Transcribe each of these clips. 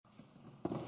State of the Union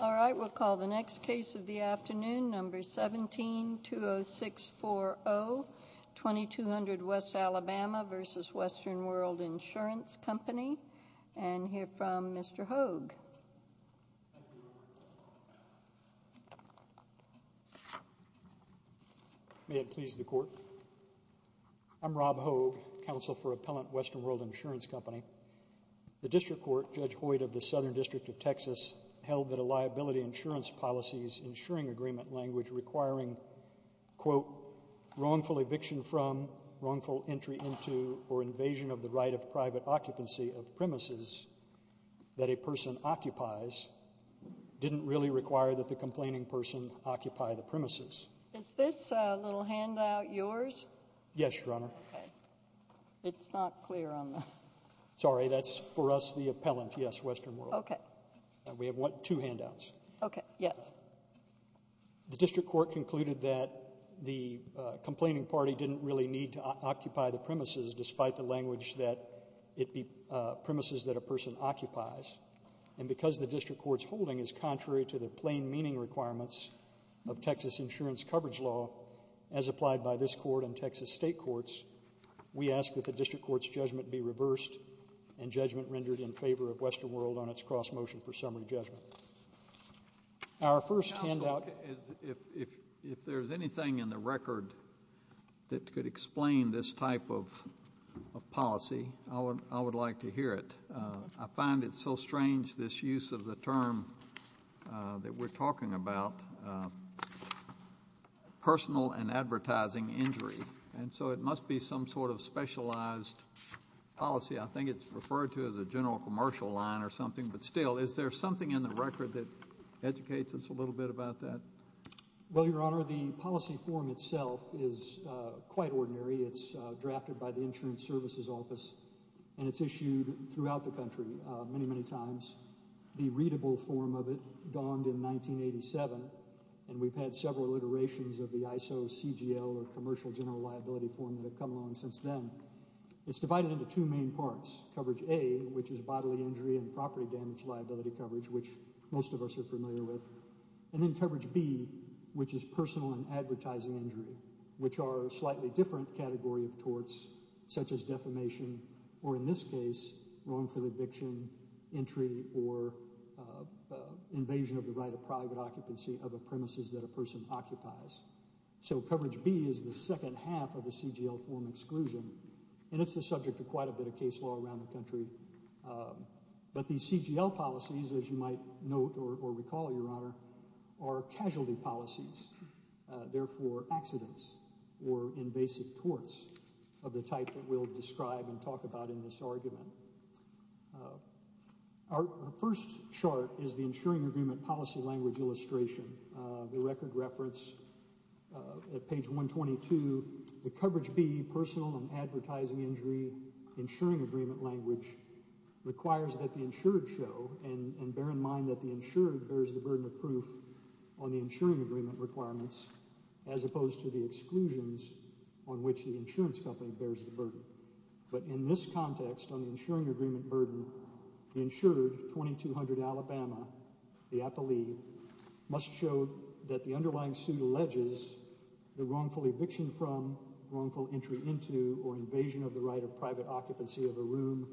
All right, we'll call the next case of the afternoon, number 17-20640, 2200 West Alabama v. Western World Insurance Company, and hear from Mr. Hogue. May it please the Court. I'm Rob Hogue, counsel for Appellant Western World Insurance Company. The District Court, Judge Hoyt of the Southern District of Texas, held that a liability insurance policy's insuring agreement language requiring, quote, wrongful eviction from, wrongful entry into, or invasion of the right of private occupancy of premises that a person occupies didn't really require that the complaining person occupy the premises. Is this little handout yours? Yes, Your Honor. It's not clear on the... Sorry, that's for us the appellant, yes, Western World. Okay. We have two handouts. Okay, yes. The District Court concluded that the complaining party didn't really need to occupy the premises, despite the language that it, premises that a person occupies, and because the District Court's holding is contrary to the plain meaning requirements of Texas insurance coverage law as applied by this Court and Texas State Courts, we ask that the District Court's judgment be reversed and judgment rendered in favor of Western World on its cross-motion for summary judgment. Our first handout... If there's anything in the record that could explain this type of policy, I would like to hear it. I find it so strange, this use of the term that we're talking about, personal and advertising injury, and so it must be some sort of specialized policy. I think it's referred to as a general commercial line or something, but still, is there something in the record that educates us a little bit about that? Well, Your Honor, the policy form itself is quite ordinary. It's drafted by the Insurance Services Office, and it's issued throughout the country many, many times. The readable form of it dawned in 1987, and we've had several iterations of the ISO, CGL, or Commercial General Liability form that have come along since then. It's divided into two main parts. Coverage A, which is bodily injury and property damage liability coverage, which most of us are familiar with, and then Coverage B, which is personal and advertising injury, which are a slightly different category of torts, such as defamation, or in this case, wrong for the eviction, entry, or invasion of the right of private occupancy of the premises that a person occupies. So Coverage B is the second half of the CGL form exclusion, and it's the subject of quite a bit of case law around the country, but these CGL policies, as you might note or recall, Your Honor, are casualty policies, therefore accidents or invasive torts of the type that we'll describe and talk about in this argument. Our first chart is the insuring agreement policy language illustration. The record reference at page 122, the Coverage B, personal and advertising injury insuring agreement language, requires that the insured show, and bear in mind that the insured bears the burden of proof on the insuring agreement requirements, as opposed to the exclusions on which the insurance company bears the burden. But in this context, on the insuring agreement burden, the insured, 2200 Alabama, the appellee, must show that the underlying suit alleges the wrongful eviction from, wrongful entry into, or invasion of the right of private occupancy of a room,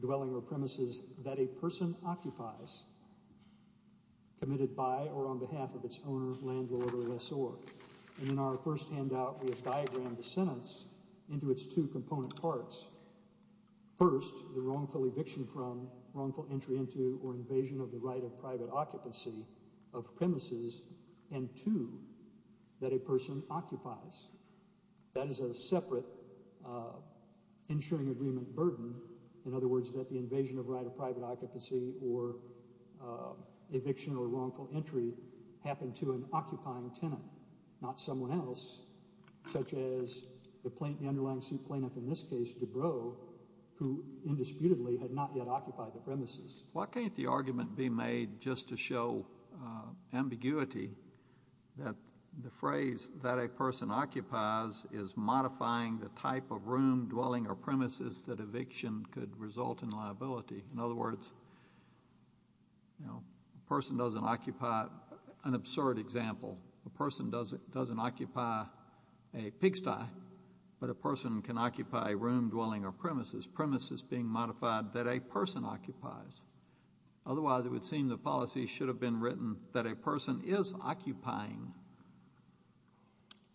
dwelling, or premises that a person occupies, committed by or on behalf of its owner, landlord, or lessor. And in our first handout, we have diagrammed the sentence into its two component parts. First, the wrongful eviction from, wrongful entry into, or invasion of the right of private occupancy of premises, and two, that a person occupies. That is a separate insuring agreement burden. In other words, that the invasion of right of private occupancy, or eviction, or wrongful entry, happened to an occupying tenant, not someone else, such as the underlying suit plaintiff, in this case, Dubrow, who indisputably had not yet occupied the premises. Why can't the argument be made just to show ambiguity, that the phrase that a person occupies is modifying the type of room, dwelling, or premises that eviction could result in liability? In other words, you know, a person doesn't occupy, an absurd example, a person doesn't occupy a pigsty, but a person can occupy a room, dwelling, or premises, premises being modified that a person occupies. Otherwise, it would seem the policy should have been written that a person is occupying.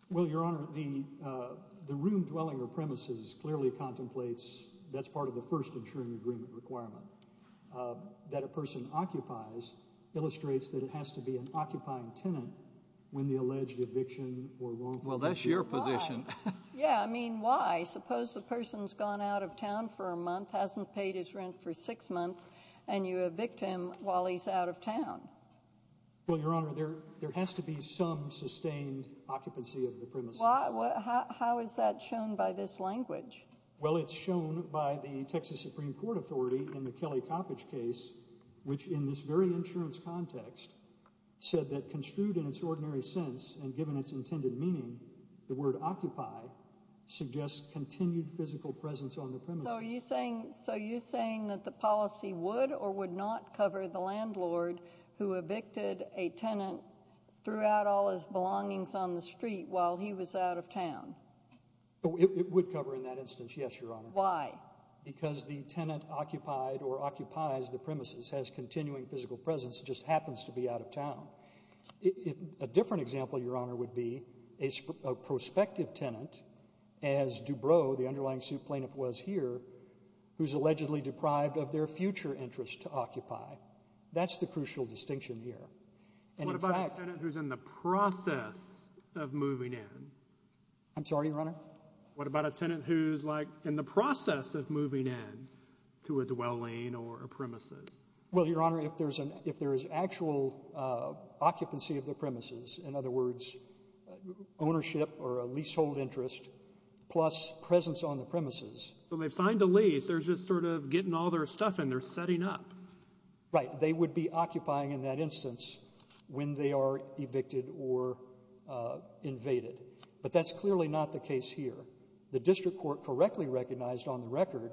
Well, Your Honor, the room, dwelling, or premises clearly contemplates, that's part of the first insuring agreement requirement, that a person occupies illustrates that it has to be an occupying tenant when the alleged eviction or wrongful entry. Well, that's your position. Yeah, I mean, why? Suppose a person's gone out of town for a month, hasn't paid his rent for six months, and you evict him while he's out of town. Well, Your Honor, there has to be some sustained occupancy of the premises. How is that shown by this language? Well, it's shown by the Texas Supreme Court Authority in the Kelly Coppedge case, which in this very insurance context, said that construed in its ordinary sense, and given its intended meaning, the word occupy suggests continued physical presence on the premises. So you're saying that the policy would or would not cover the landlord who evicted a tenant, threw out all his belongings on the street while he was out of town? It would cover in that instance, yes, Your Honor. Why? Because the tenant occupied or occupies the premises, has continuing physical presence, just happens to be out of town. A different example, Your Honor, would be a prospective tenant as Dubrow, the underlying suit plaintiff was here, who's allegedly deprived of their future interest to occupy. That's the crucial distinction here. And in fact What about a tenant who's in the process of moving in? I'm sorry, Your Honor? What about a tenant who's, like, in the process of moving in to a dwelling or a premises? Well, Your Honor, if there's an if there is actual occupancy of the premises, in other words, ownership or a leasehold interest, plus presence on the premises. So they've signed a lease. They're just sort of getting all their stuff in. They're setting up. Right. They would be occupying in that instance when they are evicted or invaded. But that's clearly not the case here. The district court correctly recognized on the record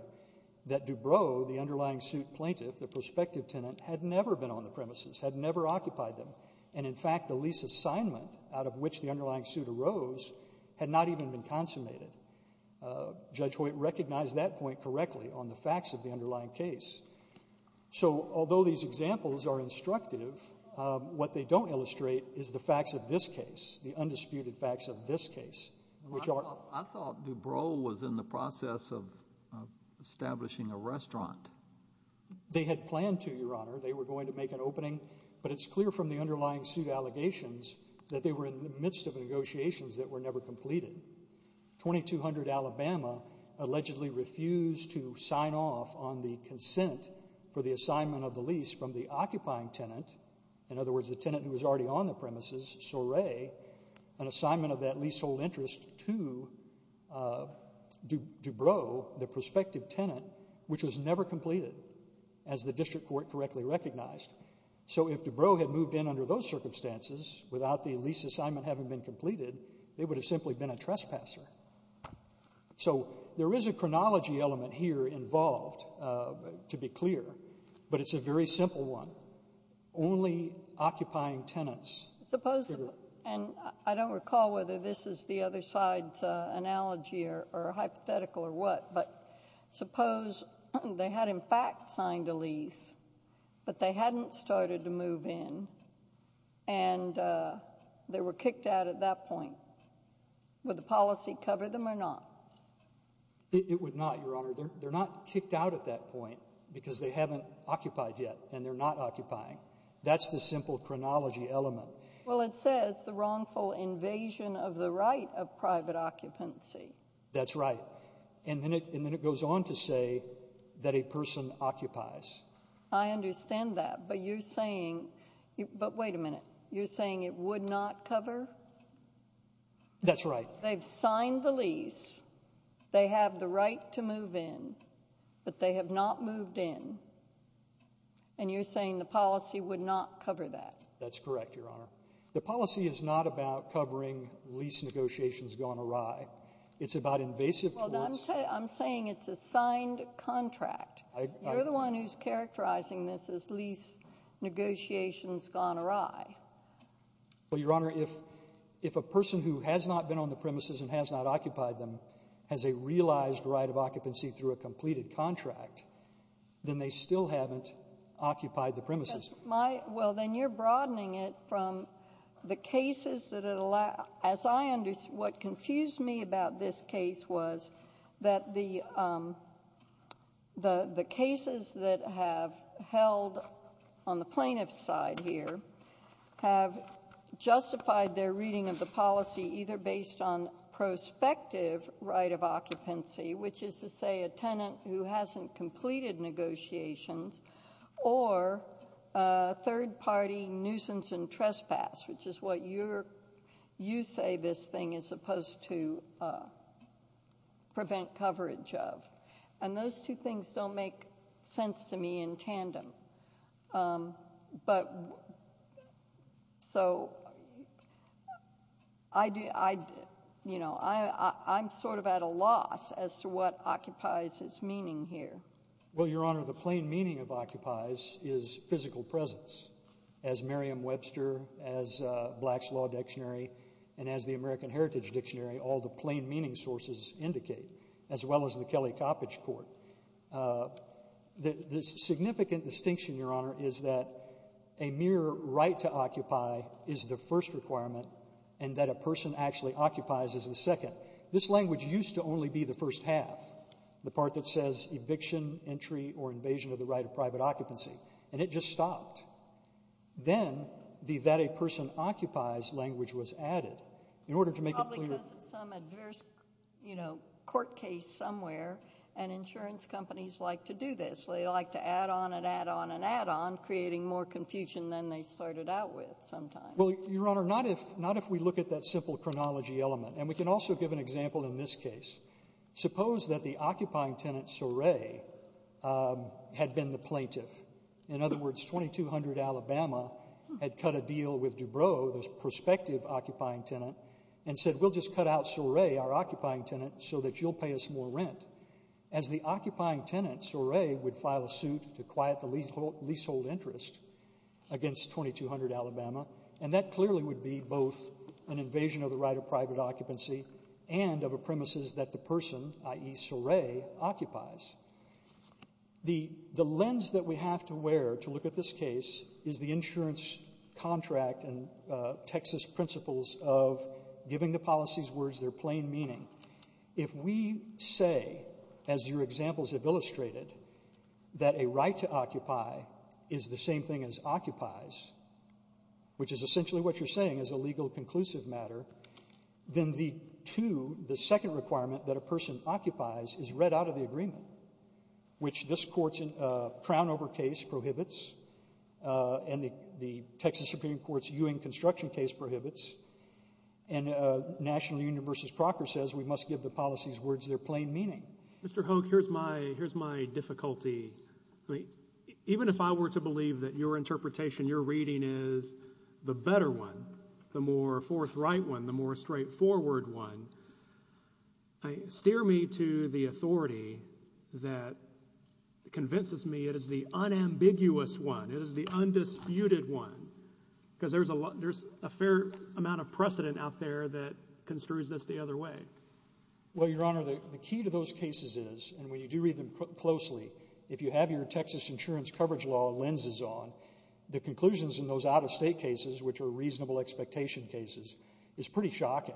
that Dubrow, the underlying suit plaintiff, the prospective tenant, had never been on the premises, had never occupied them. And in fact, the lease assignment out of which the underlying suit arose had not even been consummated. Judge Hoyt recognized that point correctly on the facts of the underlying case. So although these examples are instructive, what they don't illustrate is the facts of this case, the undisputed facts of this case. I thought Dubrow was in the process of establishing a restaurant. They had planned to, Your Honor. They were going to make an opening. But it's clear from the underlying suit allegations that they were in the midst of negotiations that were never completed. 2200 Alabama allegedly refused to sign off on the consent for the assignment of the lease from the occupying tenant. In other words, the tenant who was already on the premises, Soray, an assignment of that leasehold interest to Dubrow, the prospective tenant, which was never completed as the district court correctly recognized. So if Dubrow had moved in under those circumstances without the lease assignment having been completed, they would have simply been a trespasser. So there is a chronology element here involved, to be clear, but it's a very simple one. Only occupying tenants. Suppose, and I don't recall whether this is the other side's analogy or hypothetical or what, but suppose they had in fact signed a lease, but they hadn't started to move in and they were kicked out at that point. Would the policy cover them or not? It would not, Your Honor. They're not kicked out at that point because they haven't occupied yet and they're not occupying. That's the simple chronology element. Well, it says the wrongful invasion of the right of private occupancy. That's right. And then it goes on to say that a person occupies. I understand that, but you're saying, but wait a minute, you're saying it would not cover? That's right. They've signed the lease. They have the right to move in, but they have not moved in. And you're saying the policy would not cover that? That's correct, Your Honor. The policy is not about covering lease negotiations gone awry. It's about invasive. I'm saying it's a signed contract. You're the one who's characterizing this as lease negotiations gone awry. Well, Your Honor, if a person who has not been on the premises and has not occupied them has a realized right of occupancy through a completed contract, then they still haven't occupied the premises. Well, then you're broadening it from the cases that it allowed. As I understand, what confused me about this case was that the cases that have held on the plaintiff's side here have justified their reading of the policy either based on prospective right of occupancy, which is to say a tenant who hasn't completed negotiations, or a third-party nuisance and trespass, which is what you say this thing is supposed to prevent coverage of. And those two things don't make sense to me in tandem. I'm sort of at a loss as to what occupies its meaning here. Well, Your Honor, the plain meaning of occupies is physical presence. As Merriam-Webster, as Black's Law Dictionary, and as the American Heritage Dictionary, all the plain meaning sources indicate, as well as the Kelly Coppedge Court. The significant distinction, Your Honor, is that a mere right to occupy is the first requirement and that a person actually occupies is the second. This language used to only be the first half, the part that says eviction, entry, or invasion of the right of private occupancy, and it just stopped. Then, the that a person occupies language was added in order to make it clear... Probably because of some adverse court case somewhere, and insurance companies like to do this. They like to add on and add on and add on, creating more confusion than they started out with sometimes. Well, Your Honor, not if we look at that simple chronology element, and we can also give an example in this case. Suppose that the occupying tenant, Soray, had been the plaintiff. In other words, 2200 Alabama had cut a deal with Dubrow, the prospective occupying tenant, and said, we'll just cut out Soray, our occupying tenant, so that you'll pay us more rent. As the occupying tenant, Soray would file a suit to quiet the leasehold interest against 2200 Alabama, and that clearly would be both an invasion of the right of private occupancy and of a premises that the person, i.e. Soray, occupies. The lens that we have to wear to look at this case is the insurance contract and Texas principles of giving the policies words their plain meaning. If we say, as your examples have illustrated, that a right to occupy is the same thing as occupies, which is essentially what you're saying is a legal conclusive matter, then the two, the second requirement that a person occupies is read out of the agreement, which this Court's Crownover case prohibits and the Texas Supreme Court's Ewing construction case prohibits, and National Union v. Procker says we must give the policies words their plain meaning. Mr. Hoke, here's my difficulty. Even if I were to believe that your interpretation, your reading is the better one, the more forthright one, the more straightforward one, steer me to the authority that convinces me it is the unambiguous one, it is the undisputed one, because there's a fair amount of precedent out there that construes this the other way. Well, Your Honor, the key to those cases is, and when you do read them closely, if you have your Texas insurance coverage law lenses on, the conclusions in those out-of-state cases, which are reasonable expectation cases, is pretty shocking.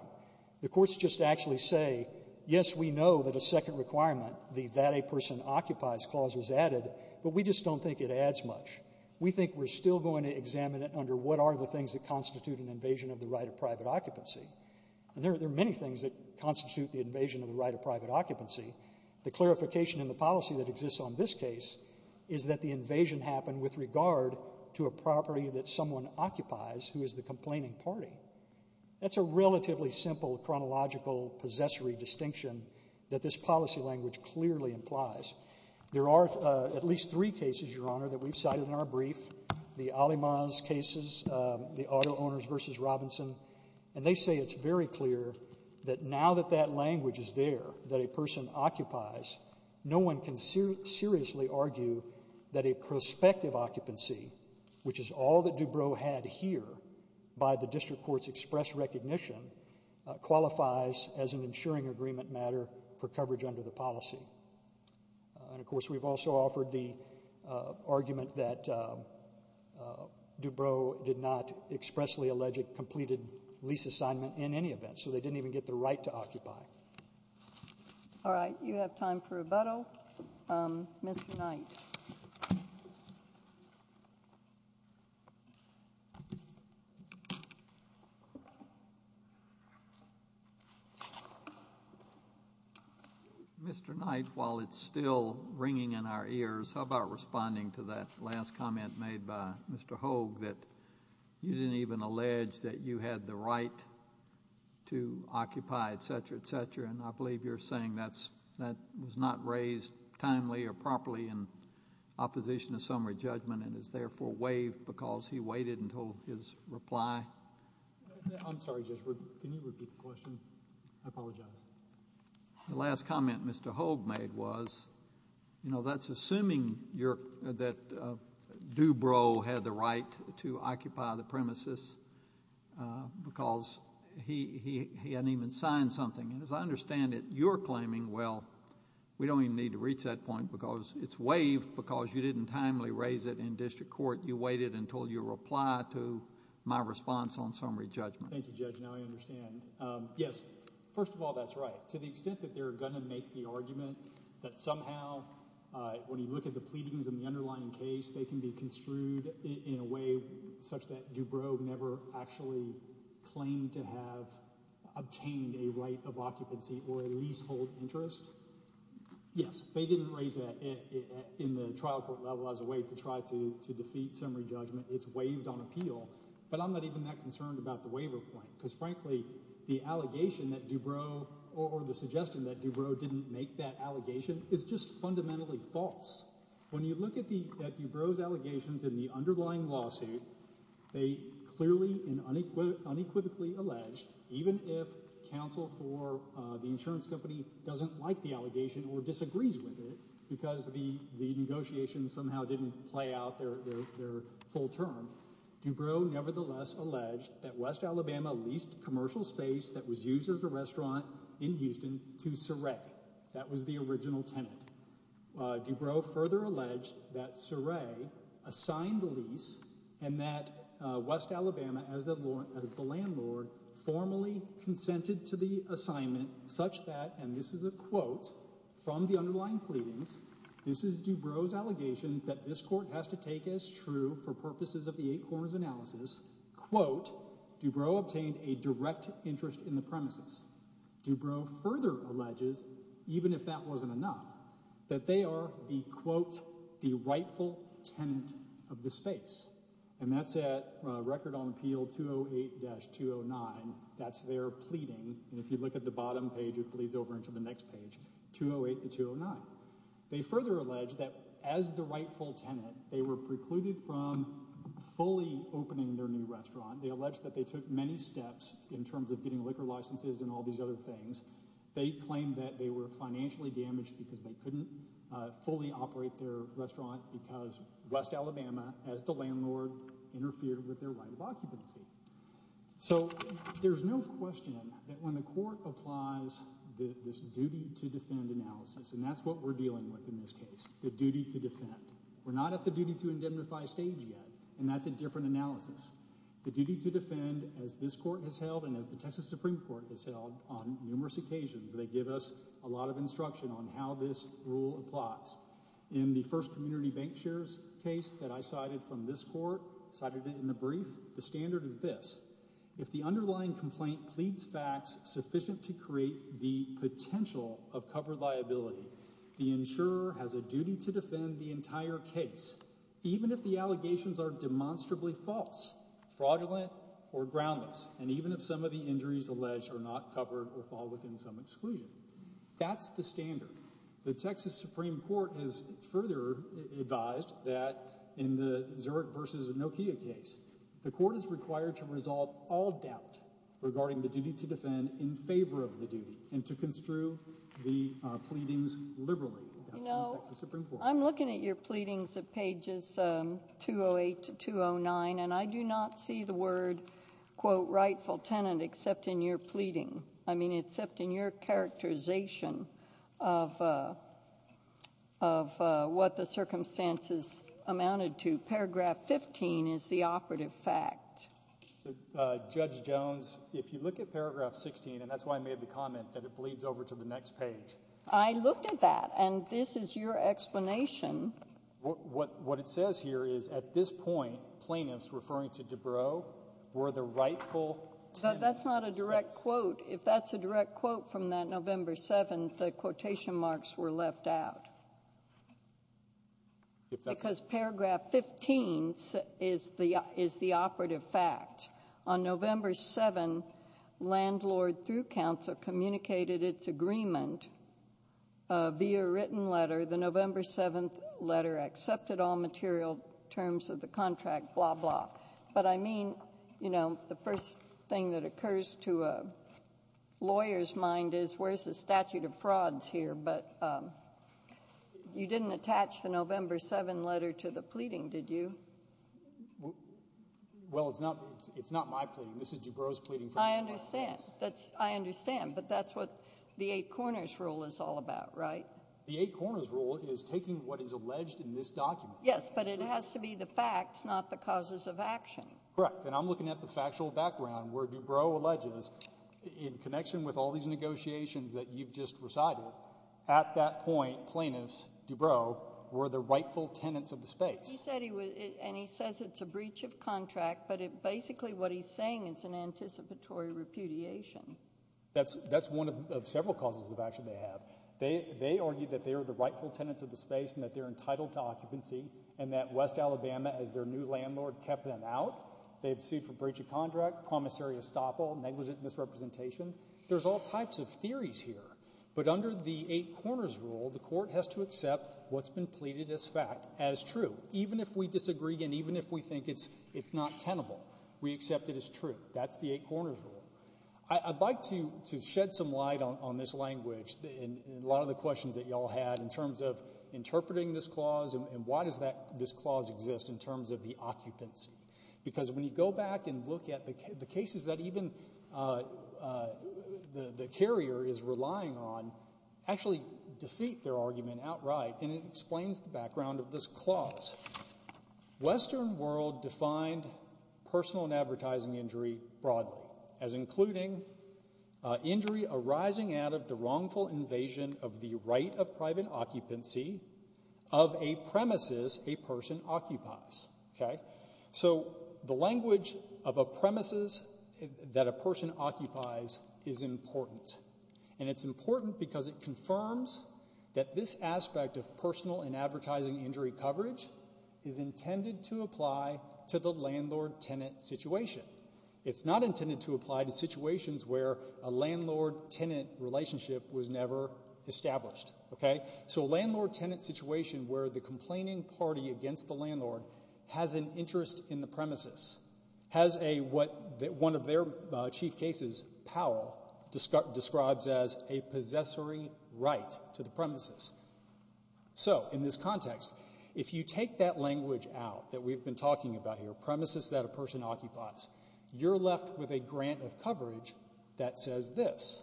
The courts just actually say, yes, we know that a second requirement, the that a person occupies clause was added, but we just don't think it adds much. We think we're still going to examine it under what are the things that constitute an invasion of the right of private occupancy. And there are many things that constitute the invasion of the right of private occupancy. The clarification in the policy that exists on this case is that the invasion happened with regard to a property that someone occupies who is the complaining party. That's a relatively simple chronological possessory distinction that this policy language clearly implies. There are at least three cases, Your Honor, that we've cited in our brief, the Alimaz cases, the auto owners versus Robinson, and they say it's very clear that now that that language is there, that a person occupies, no one can seriously argue that a prospective occupancy, which is all that Dubrow had here by the district court's express recognition, qualifies as an insuring agreement matter for coverage under the policy. And, of course, we've also offered the argument that lease assignment in any event, so they didn't even get the right to occupy. All right. You have time for rebuttal. Mr. Knight. Mr. Knight, while it's still ringing in our ears, how about responding to that last comment made by Mr. Hogue that you didn't even allege that you had the right to occupy, et cetera, et cetera, and I believe you're saying that was not raised timely or properly in opposition to summary judgment and is therefore waived because he waited until his reply. I'm sorry, Judge, can you repeat the question? I apologize. The last comment Mr. Hogue made was, you know, that's assuming that Dubrow had the right to occupy the premises because he hadn't even signed something, and as I understand it, you're claiming, well, we don't even need to reach that point because it's waived because you didn't timely raise it in district court. You waited until your reply to my response on summary judgment. Thank you, Judge. Now I understand. Yes, first of all, that's right. To the extent that they're going to make the argument that somehow when you look at the pleadings in the underlying case, they can be construed in a way such that Dubrow never actually claimed to have obtained a right of occupancy or a leasehold interest. Yes, they didn't raise that in the trial court level as a way to try to defeat summary judgment. It's waived on appeal, but I'm not even that concerned about the waiver point because frankly, the allegation that Dubrow or the suggestion that Dubrow didn't make that allegation is just fundamentally false. When you look at Dubrow's allegations in the underlying lawsuit, they clearly and unequivocally alleged, even if counsel for the insurance company doesn't like the allegation or disagrees with it because the negotiation somehow didn't play out their full term, Dubrow nevertheless alleged that West Alabama leased commercial space that was used as a restaurant in Houston to Soray. That was the original tenant. Dubrow further alleged that Soray assigned the lease and that West Alabama, as the landlord, formally consented to the assignment such that, and this is a quote from the underlying pleadings, this is Dubrow's take as true for purposes of the eight corners analysis, quote, Dubrow obtained a direct interest in the premises. Dubrow further alleges, even if that wasn't enough, that they are the, quote, the rightful tenant of the space, and that's at record on appeal 208-209. That's their pleading, and if you look at the bottom page, it bleeds over into the next page, 208-209. They further allege that as the rightful tenant, they were precluded from fully opening their new restaurant. They allege that they took many steps in terms of getting liquor licenses and all these other things. They claim that they were financially damaged because they couldn't fully operate their restaurant because West Alabama, as the landlord, interfered with their right of occupancy. So there's no question that when the court applies this duty to defend analysis, and that's what we're dealing with in this case, the duty to defend. We're not at the duty to indemnify stage yet, and that's a different analysis. The duty to defend, as this court has held and as the Texas Supreme Court has held on numerous occasions, they give us a lot of instruction on how this rule applies. In the first community bank shares case that I cited from this court, cited it in the brief, the standard is this. If the underlying complaint pleads facts sufficient to create the insurer has a duty to defend the entire case, even if the allegations are demonstrably false, fraudulent, or groundless, and even if some of the injuries alleged are not covered or fall within some exclusion. That's the standard. The Texas Supreme Court has further advised that in the Zurich versus Nokia case, the court is required to resolve all doubt regarding the duty to defend in favor of the duty and to construe the pleadings liberally. I'm looking at your pleadings at pages 208 to 209 and I do not see the word quote rightful tenant except in your pleading. I mean except in your characterization of what the circumstances amounted to. Paragraph 15 is the operative fact. So Judge Jones, if you look at paragraph 16, and that's why I made the comment that it bleeds over to the next page. I looked at that and this is your explanation. What it says here is at this point plaintiffs referring to Dubrow were the rightful. That's not a direct quote. If that's a direct quote from that November 7th, the quotation marks were left out. Because paragraph 15 is the operative fact. On November 7, landlord through council communicated its agreement via written letter. The November 7th letter accepted all material terms of the contract, blah blah. But I mean, you know, the first thing that occurs to a You didn't attach the November 7th letter to the pleading, did you? Well, it's not my pleading. This is Dubrow's pleading. I understand. I understand. But that's what the eight corners rule is all about, right? The eight corners rule is taking what is alleged in this document. Yes, but it has to be the facts, not the causes of action. Correct. And I'm looking at the factual background where Dubrow alleges in connection with all these negotiations that you've just recited, at that point plaintiffs Dubrow were the rightful tenants of the space. And he says it's a breach of contract, but basically what he's saying is an anticipatory repudiation. That's one of several causes of action they have. They argued that they were the rightful tenants of the space and that they're entitled to occupancy and that West Alabama, as their new landlord, kept them out. They've sued for breach of contract, promissory estoppel, negligent misrepresentation. There's all types of theories here. But under the eight corners rule, the court has to accept what's been pleaded as fact, as true. Even if we disagree and even if we think it's not tenable, we accept it as true. That's the eight corners rule. I'd like to shed some light on this language and a lot of the questions that y'all had in terms of interpreting this clause and why does this clause exist in terms of the occupancy. Because when you go back and look at the cases that even the carrier is relying on, actually defeat their argument outright and it explains the background of this clause. Western world defined personal and advertising injury broadly as including injury arising out of the wrongful invasion of the right of private occupancy of a premises a person occupies. So the language of a premises that a person occupies is important. And it's important because it confirms that this aspect of personal and advertising injury coverage is intended to apply to the landlord-tenant situation. It's not intended to apply to where the complaining party against the landlord has an interest in the premises, has what one of their chief cases, Powell, describes as a possessory right to the premises. So in this context, if you take that language out that we've been talking about here, premises that a person occupies, you're left with a grant of coverage that says this.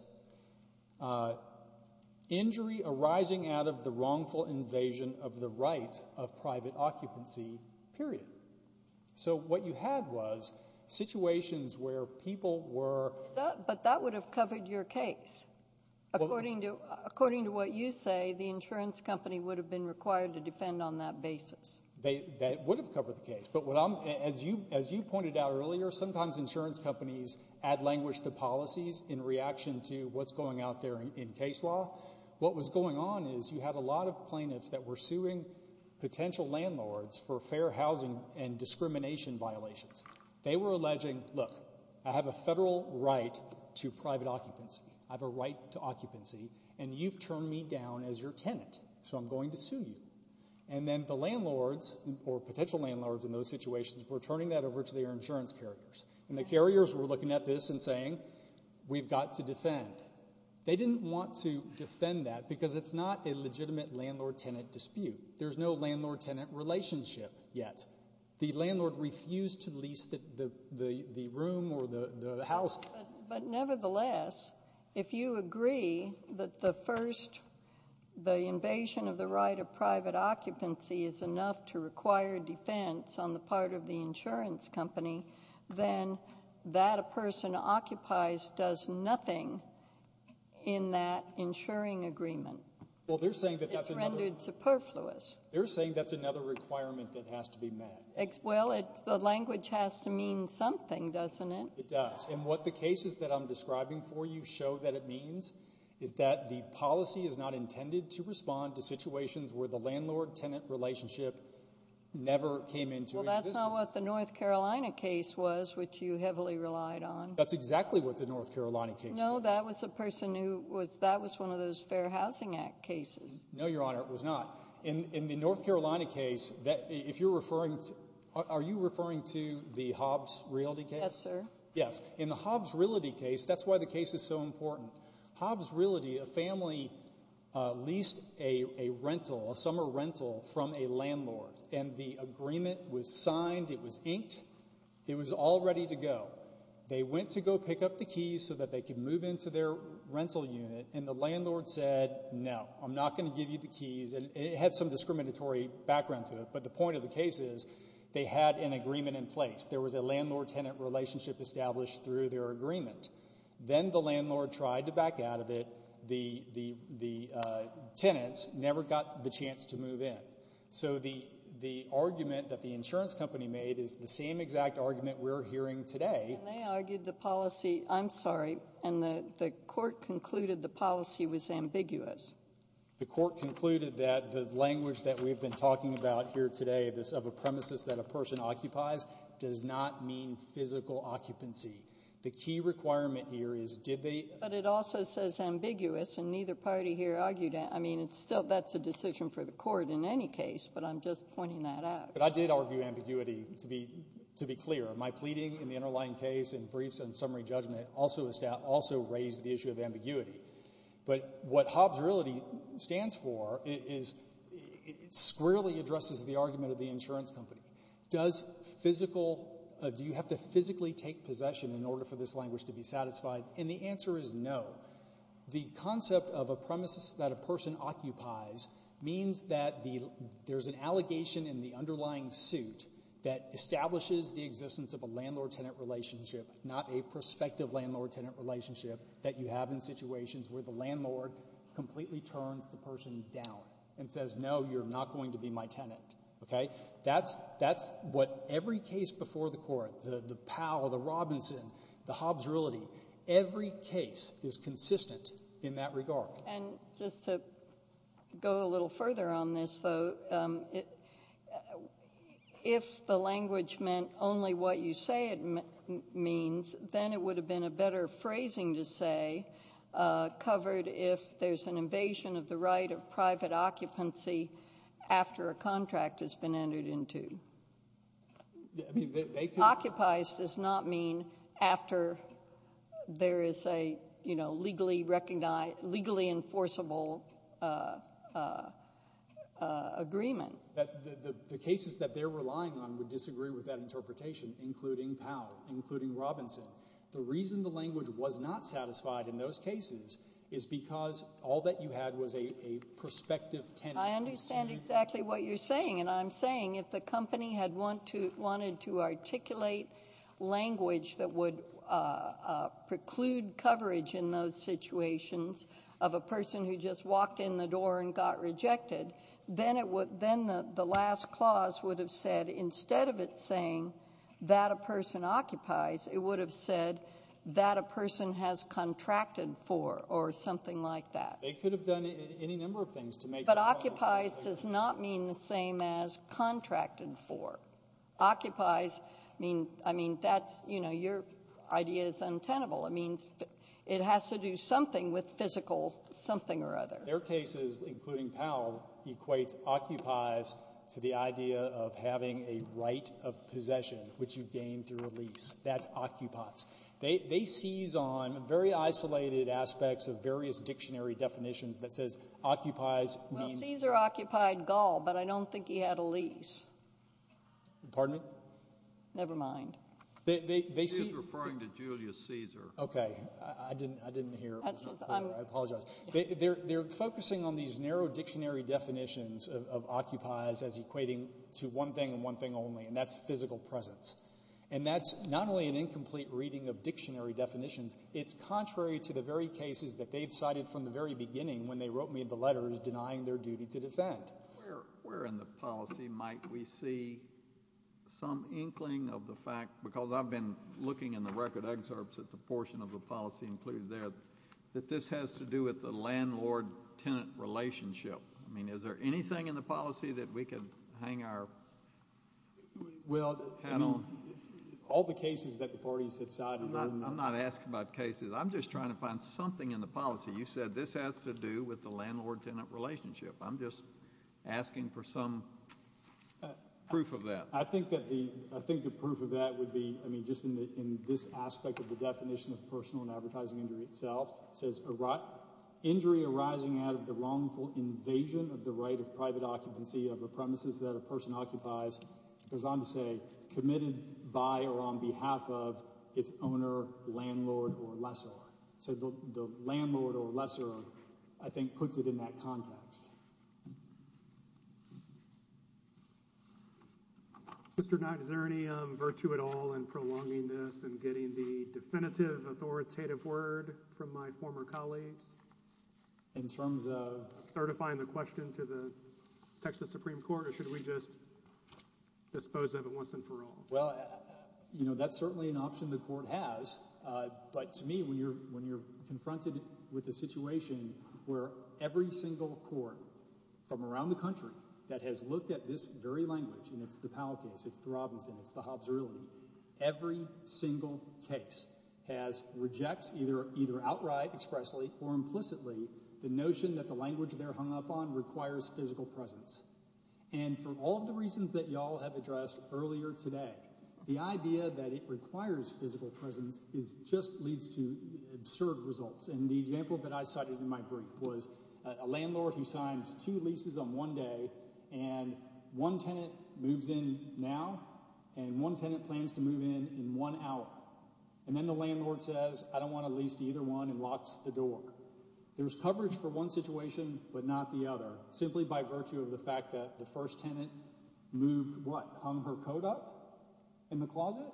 Injury arising out of the wrongful invasion of the right of private occupancy, period. So what you had was situations where people were... But that would have covered your case. According to what you say, the insurance company would have been required to defend on that basis. They would have covered the case. But as you pointed out earlier, sometimes insurance companies add language to policies in reaction to what's going out there in case law. What was going on is you had a lot of plaintiffs that were suing potential landlords for fair housing and discrimination violations. They were alleging, look, I have a federal right to private occupancy. I have a right to occupancy. And you've turned me down as your tenant. So I'm going to sue you. And then the landlords, or potential landlords in those situations, were turning that over to their insurance carriers. And the carriers were looking at this and saying, we've got to defend. They didn't want to defend that because it's not a legitimate landlord-tenant dispute. There's no landlord-tenant relationship yet. The landlord refused to lease the room or the house. But nevertheless, if you agree that the first, the invasion of the right of private occupancy is enough to require defense on the part of the insurance company, then that a person occupies does nothing in that insuring agreement. Well, they're saying that that's another— It's rendered superfluous. They're saying that's another requirement that has to be met. Well, the language has to mean something, doesn't it? It does. And what the cases that I'm describing for you show that it means is that the policy is not intended to respond to situations where the landlord-tenant relationship never came into existence. Well, that's not what the North Carolina case was, which you heavily relied on. That's exactly what the North Carolina case was. No, that was a person who was—that was one of those Fair Housing Act cases. No, Your Honor, it was not. In the North Carolina case, if you're referring to—are you referring to the Hobbs Realty case? Yes, sir. Yes. In the Hobbs Realty case, that's why the case is so important. Hobbs Realty, a family leased a rental, a summer rental from a landlord, and the agreement was signed. It was inked. It was all ready to go. They went to go pick up the keys so that they could move into their rental unit, and the landlord said, no, I'm not going to give you the keys. And it had some discriminatory background to it, but the point of the case is they had an agreement in place. There was a landlord-tenant relationship established through their agreement. Then the landlord tried to back out of it. The tenants never got the chance to move in. So the argument that the insurance company made is the same exact argument we're hearing today— And they argued the policy—I'm sorry, and the court concluded the policy was ambiguous. The court concluded that the language that we've been talking about here today, this of a premises that a person occupies, does not mean physical occupancy. The key requirement here is did they— But it also says ambiguous, and neither party here argued that. I mean, it's still—that's a decision for the court in any case, but I'm just pointing that out. But I did argue ambiguity, to be clear. My pleading in the underlying case and briefs and summary judgment also raised the issue of ambiguity. But what Hobbs really stands for is it squarely addresses the argument of the insurance company. Does physical—do you have to physically take possession in order for this language to be satisfied? And the answer is no. The concept of a premises that a person occupies means that there's an allegation in the underlying suit that establishes the existence of a landlord-tenant relationship, not a prospective landlord-tenant relationship that you have in situations where the landlord completely turns the person down and says, no, you're not going to be my tenant. Okay? That's what every case before the Court, the Powell, the Robinson, the Hobbs-Riley, every case is consistent in that regard. And just to go a little further on this, though, if the language meant only what you say it means, then it would have been a better phrasing to say, covered if there's an invasion of the right of private occupancy after a contract has been entered into. Occupies does not mean after there is a, you know, legally enforceable agreement. But the cases that they're relying on would disagree with that interpretation, including Powell, including Robinson. The reason the language was not satisfied in those cases is because all that you had was a prospective tenant. I understand exactly what you're saying. And I'm saying if the company had wanted to articulate language that would preclude coverage in those situations of a person who just walked in the door and got rejected, then the last clause would have said, instead of it saying that a person occupies, it would have said, that a person has contracted for, or something like that. They could have done any number of things to make that. But occupies does not mean the same as contracted for. Occupies mean, I mean, that's, you know, your idea is untenable. It means it has to do something with physical something or other. Their cases, including Powell, equates occupies to the idea of having a right of possession, which you gain through a lease. That's occupies. They seize on very isolated aspects of various dictionary definitions that says occupies means... Well, Caesar occupied Gaul, but I don't think he had a lease. Pardon me? Never mind. She's referring to Julius Caesar. Okay. I didn't hear. I apologize. They're focusing on these narrow dictionary definitions of occupies as equating to one thing and one thing only, and that's physical presence. And that's not only an incomplete reading of dictionary definitions, it's contrary to the very cases that they've cited from the very beginning when they wrote me the letters denying their duty to defend. Where in the policy might we see some inkling of the fact, because I've been looking in the record excerpts at the portion of the policy included there, that this has to do with the landlord-tenant relationship? I mean, is there anything in the policy that we can hang our hat on? All the cases that the parties have cited... I'm not asking about cases. I'm just trying to find something in the policy. You said this has to do with the landlord-tenant relationship. I'm just asking for some proof of that. I think that the... I think the proof of that would be, I mean, just in this aspect of the definition of personal and advertising injury itself. It says, injury arising out of the wrongful invasion of the right of private occupancy of the premises that a person occupies. It goes on to say, committed by or on behalf of its owner, landlord, or lessor. So the landlord or lessor, I think, puts it in that context. Mr. Knott, is there any virtue at all in prolonging this and getting the definitive authoritative word from my former colleagues? In terms of? Certifying the question to the Texas Supreme Court? Or should we just dispose of it once and for all? Well, you know, that's certainly an option the court has. But to me, when you're confronted with a situation where every single court from around the country that has looked at this very language, and it's the Powell case, it's the Robinson, it's the Hobbs-Riley, every single case has... requires physical presence. And for all of the reasons that y'all have addressed earlier today, the idea that it requires physical presence just leads to absurd results. And the example that I cited in my brief was a landlord who signs two leases on one day, and one tenant moves in now, and one tenant plans to move in in one hour. And then the landlord says, I don't want to lease either one, and locks the door. There's coverage for one situation, but not the other. Simply by virtue of the fact that the first tenant moved, what, hung her coat up in the closet?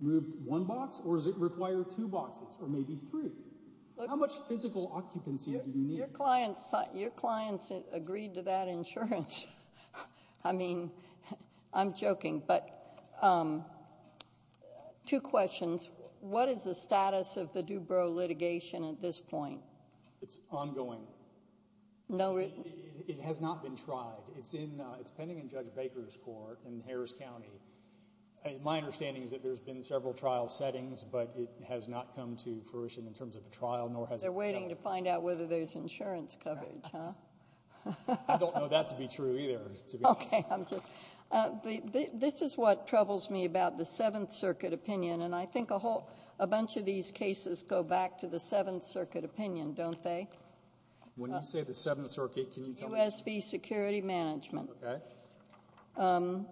Moved one box? Or does it require two boxes? Or maybe three? How much physical occupancy do you need? Your clients agreed to that insurance. I mean, I'm joking. But two questions. What is the status of the Dubro litigation at this point? It's ongoing. No... It has not been tried. It's in... It's pending in Judge Baker's court in Harris County. My understanding is that there's been several trial settings, but it has not come to fruition in terms of a trial, nor has... They're waiting to find out whether there's insurance coverage, huh? I don't know that to be true either. Okay. I'm just... This is what troubles me about the Seventh Circuit opinion, and I think a whole... A bunch of these cases go back to the Seventh Circuit opinion, don't they? When you say the Seventh Circuit, can you tell me... U.S. v. Security Management. Okay.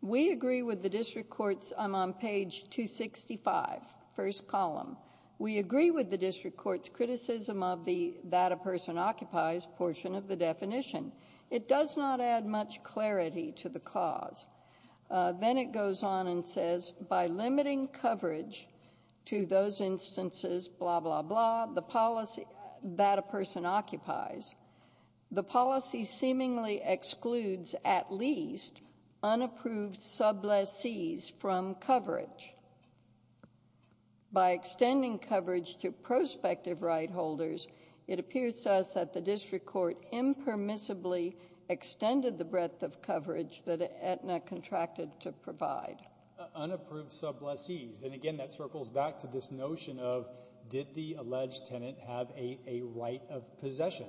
We agree with the district court's... I'm on page 265, first column. We agree with the district court's criticism of the that-a-person-occupies portion of the definition. It does not add much clarity to the cause. Then it goes on and says, by limiting coverage to those instances, blah, blah, blah, the policy that-a-person-occupies, the policy seemingly excludes at least unapproved subleases from coverage. By extending coverage to prospective right holders, it appears to us that the district court impermissibly extended the breadth of coverage that Aetna contracted to provide. Unapproved subleases. And again, that circles back to this notion of, did the alleged tenant have a right of possession?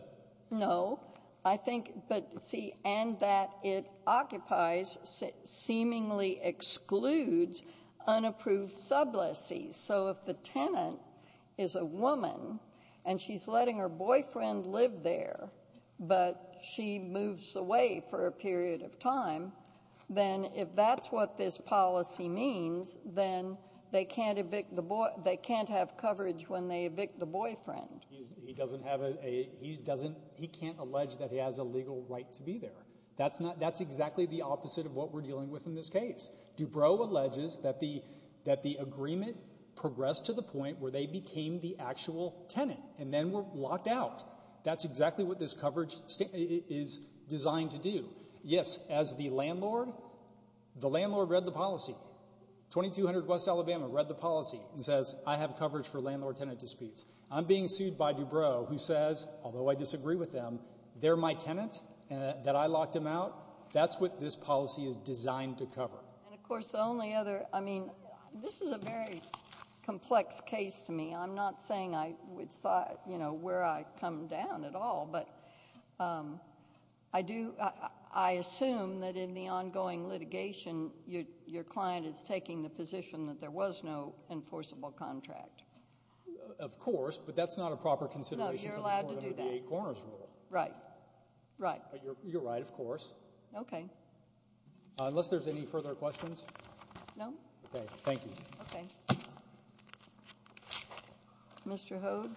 No. I think... But see, and that it occupies seemingly excludes unapproved subleases. So if the tenant is a woman and she's letting her boyfriend live there, but she moves away for a period of time, then if that's what this policy means, then they can't evict the boy... they can't have coverage when they evict the boyfriend. He doesn't have a... he doesn't... he can't allege that he has a legal right to be there. That's not... that's exactly the opposite of what we're dealing with in this case. Dubrow alleges that the agreement progressed to the point where they became the actual tenant and then were locked out. That's exactly what this coverage is designed to do. Yes, as the landlord, the landlord read the policy. 2200 West Alabama read the policy and says, I have coverage for landlord-tenant disputes. I'm being sued by Dubrow who says, although I disagree with them, they're my tenant and that I locked him out. That's what this policy is designed to cover. And of course, the only other... I mean, this is a very complex case to me. I'm not saying I would... you know, where I come down at all, but I do... I assume that in the ongoing litigation, your client is taking the position that there was no enforceable contract. Of course, but that's not a proper consideration... No, you're allowed to do that. ...under the eight corners rule. Right, right. You're right, of course. Okay. Unless there's any further questions? No. Okay, thank you. Okay. Mr. Hogue.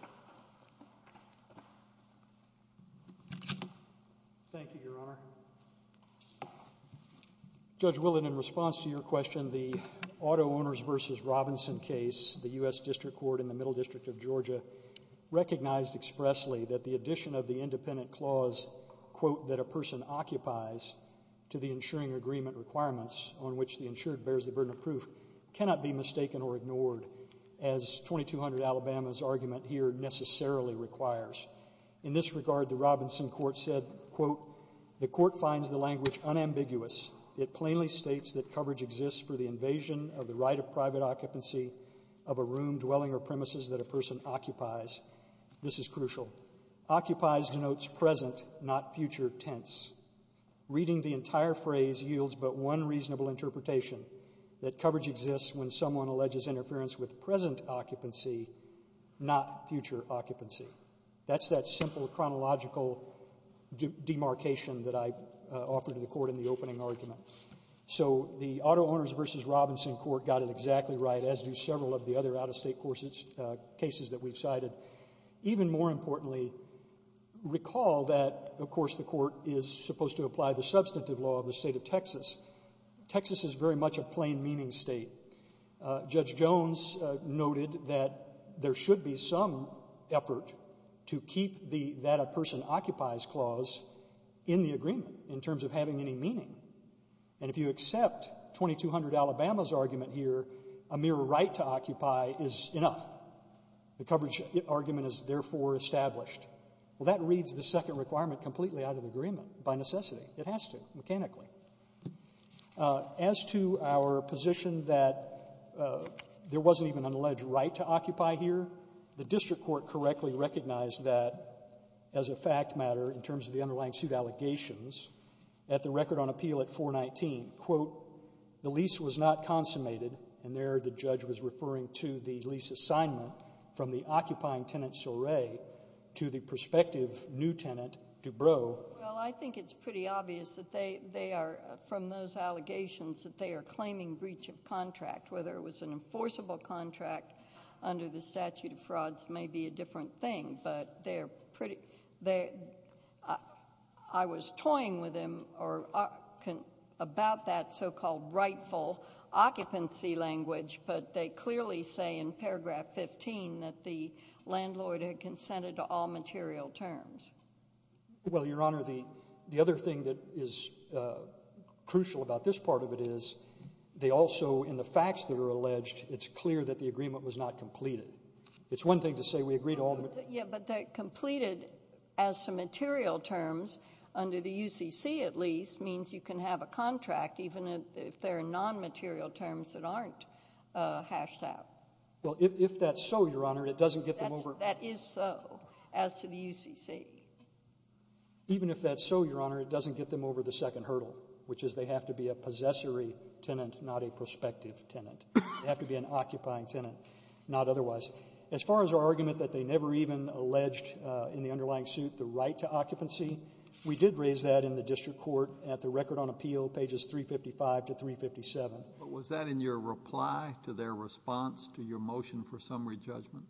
Thank you, Your Honor. Judge Willen, in response to your question, the auto owners versus Robinson case, the U.S. District Court in the Middle District of Georgia recognized expressly that the addition of the independent clause, quote, that a person occupies to the insuring agreement requirements on which the insured bears the burden of proof cannot be mistaken or ignored as 2200 Alabama's argument here necessarily requires. In this regard, the Robinson court said, quote, the court finds the language unambiguous. It plainly states that coverage exists for the invasion of the right of private occupancy of a room, dwelling, or premises that a person occupies. This is crucial. Occupies denotes present, not future tense. Reading the entire phrase yields but one reasonable interpretation, that coverage exists when someone alleges interference with present occupancy, not future occupancy. That's that simple chronological demarcation that I offered to the court in the opening argument. So the auto owners versus Robinson court got it exactly right, as do several of the other out-of-state cases that we've cited. Even more importantly, recall that, of course, the court is supposed to apply the substantive law of the state of Texas. Texas is very much a plain meaning state. Judge Jones noted that there should be some effort to keep the that a person occupies clause in the agreement in terms of having any meaning. And if you accept 2200 Alabama's argument here, a mere right to occupy is enough. The coverage argument is therefore established. Well, that reads the second requirement completely out of agreement, by necessity. It has to, mechanically. As to our position that there wasn't even an alleged right to occupy here, the district court correctly recognized that as a fact matter in terms of the underlying suit allegations at the record on appeal at 419, quote, the lease was not consummated. And there the judge was referring to the lease assignment from the occupying tenant, Soray, to the prospective new tenant, Dubrow. Well, I think it's pretty obvious that they are, from those allegations, that they are claiming breach of contract, whether it was an enforceable contract under the statute of frauds may be a different thing. But I was toying with him about that so-called rightful occupancy language. But they clearly say in paragraph 15 that the landlord had consented to all material terms. Well, Your Honor, the other thing that is crucial about this part of it is they also, in the facts that are alleged, it's clear that the agreement was not completed. It's one thing to say we agree to all. Yeah, but that completed as some material terms under the UCC at least means you can have a contract even if there are non-material terms that aren't hashed out. Well, if that's so, Your Honor, it doesn't get them over. That is so as to the UCC. Even if that's so, Your Honor, it doesn't get them over the second hurdle, which is they have to be a possessory tenant, not a prospective tenant. They have to be an occupying tenant, not otherwise. As far as our argument that they never even alleged in the underlying suit the right to occupancy, we did raise that in the district court at the record on appeal, pages 355 to 357. But was that in your reply to their response to your motion for summary judgment?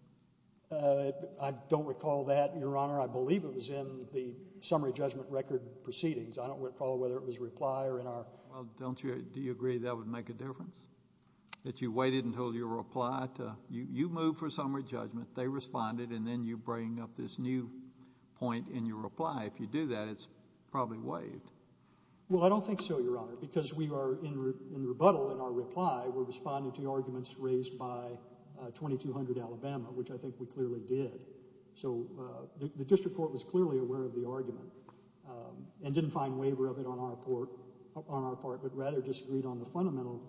I don't recall that, Your Honor. I believe it was in the summary judgment record proceedings. I don't recall whether it was a reply or in our— Well, don't you—do you agree that would make a difference, that you waited until your reply to—you moved for summary judgment, they responded, and then you bring up this new point in your reply? If you do that, it's probably waived. Well, I don't think so, Your Honor, because we are in rebuttal in our reply. We're responding to arguments raised by 2200 Alabama, which I think we clearly did. So the district court was clearly aware of the argument and didn't find waiver of it on our part, but rather disagreed on the fundamental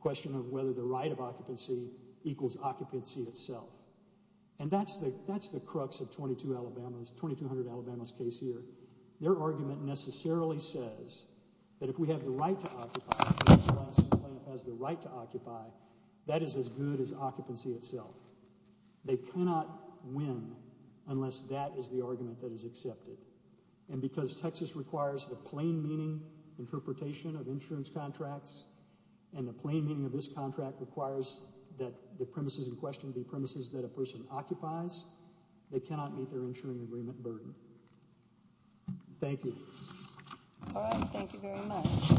question of whether the right of occupancy equals occupancy itself. And that's the—that's the crux of 22 Alabama's—2200 Alabama's case here. Their argument necessarily says that if we have the right to occupy, if the national insurance plan has the right to occupy, that is as good as occupancy itself. They cannot win unless that is the argument that is accepted. And because Texas requires the plain meaning interpretation of insurance contracts, and the plain meaning of this contract requires that the premises in question be premises that a person occupies, they cannot meet their insuring agreement burden. Thank you. All right, thank you very much.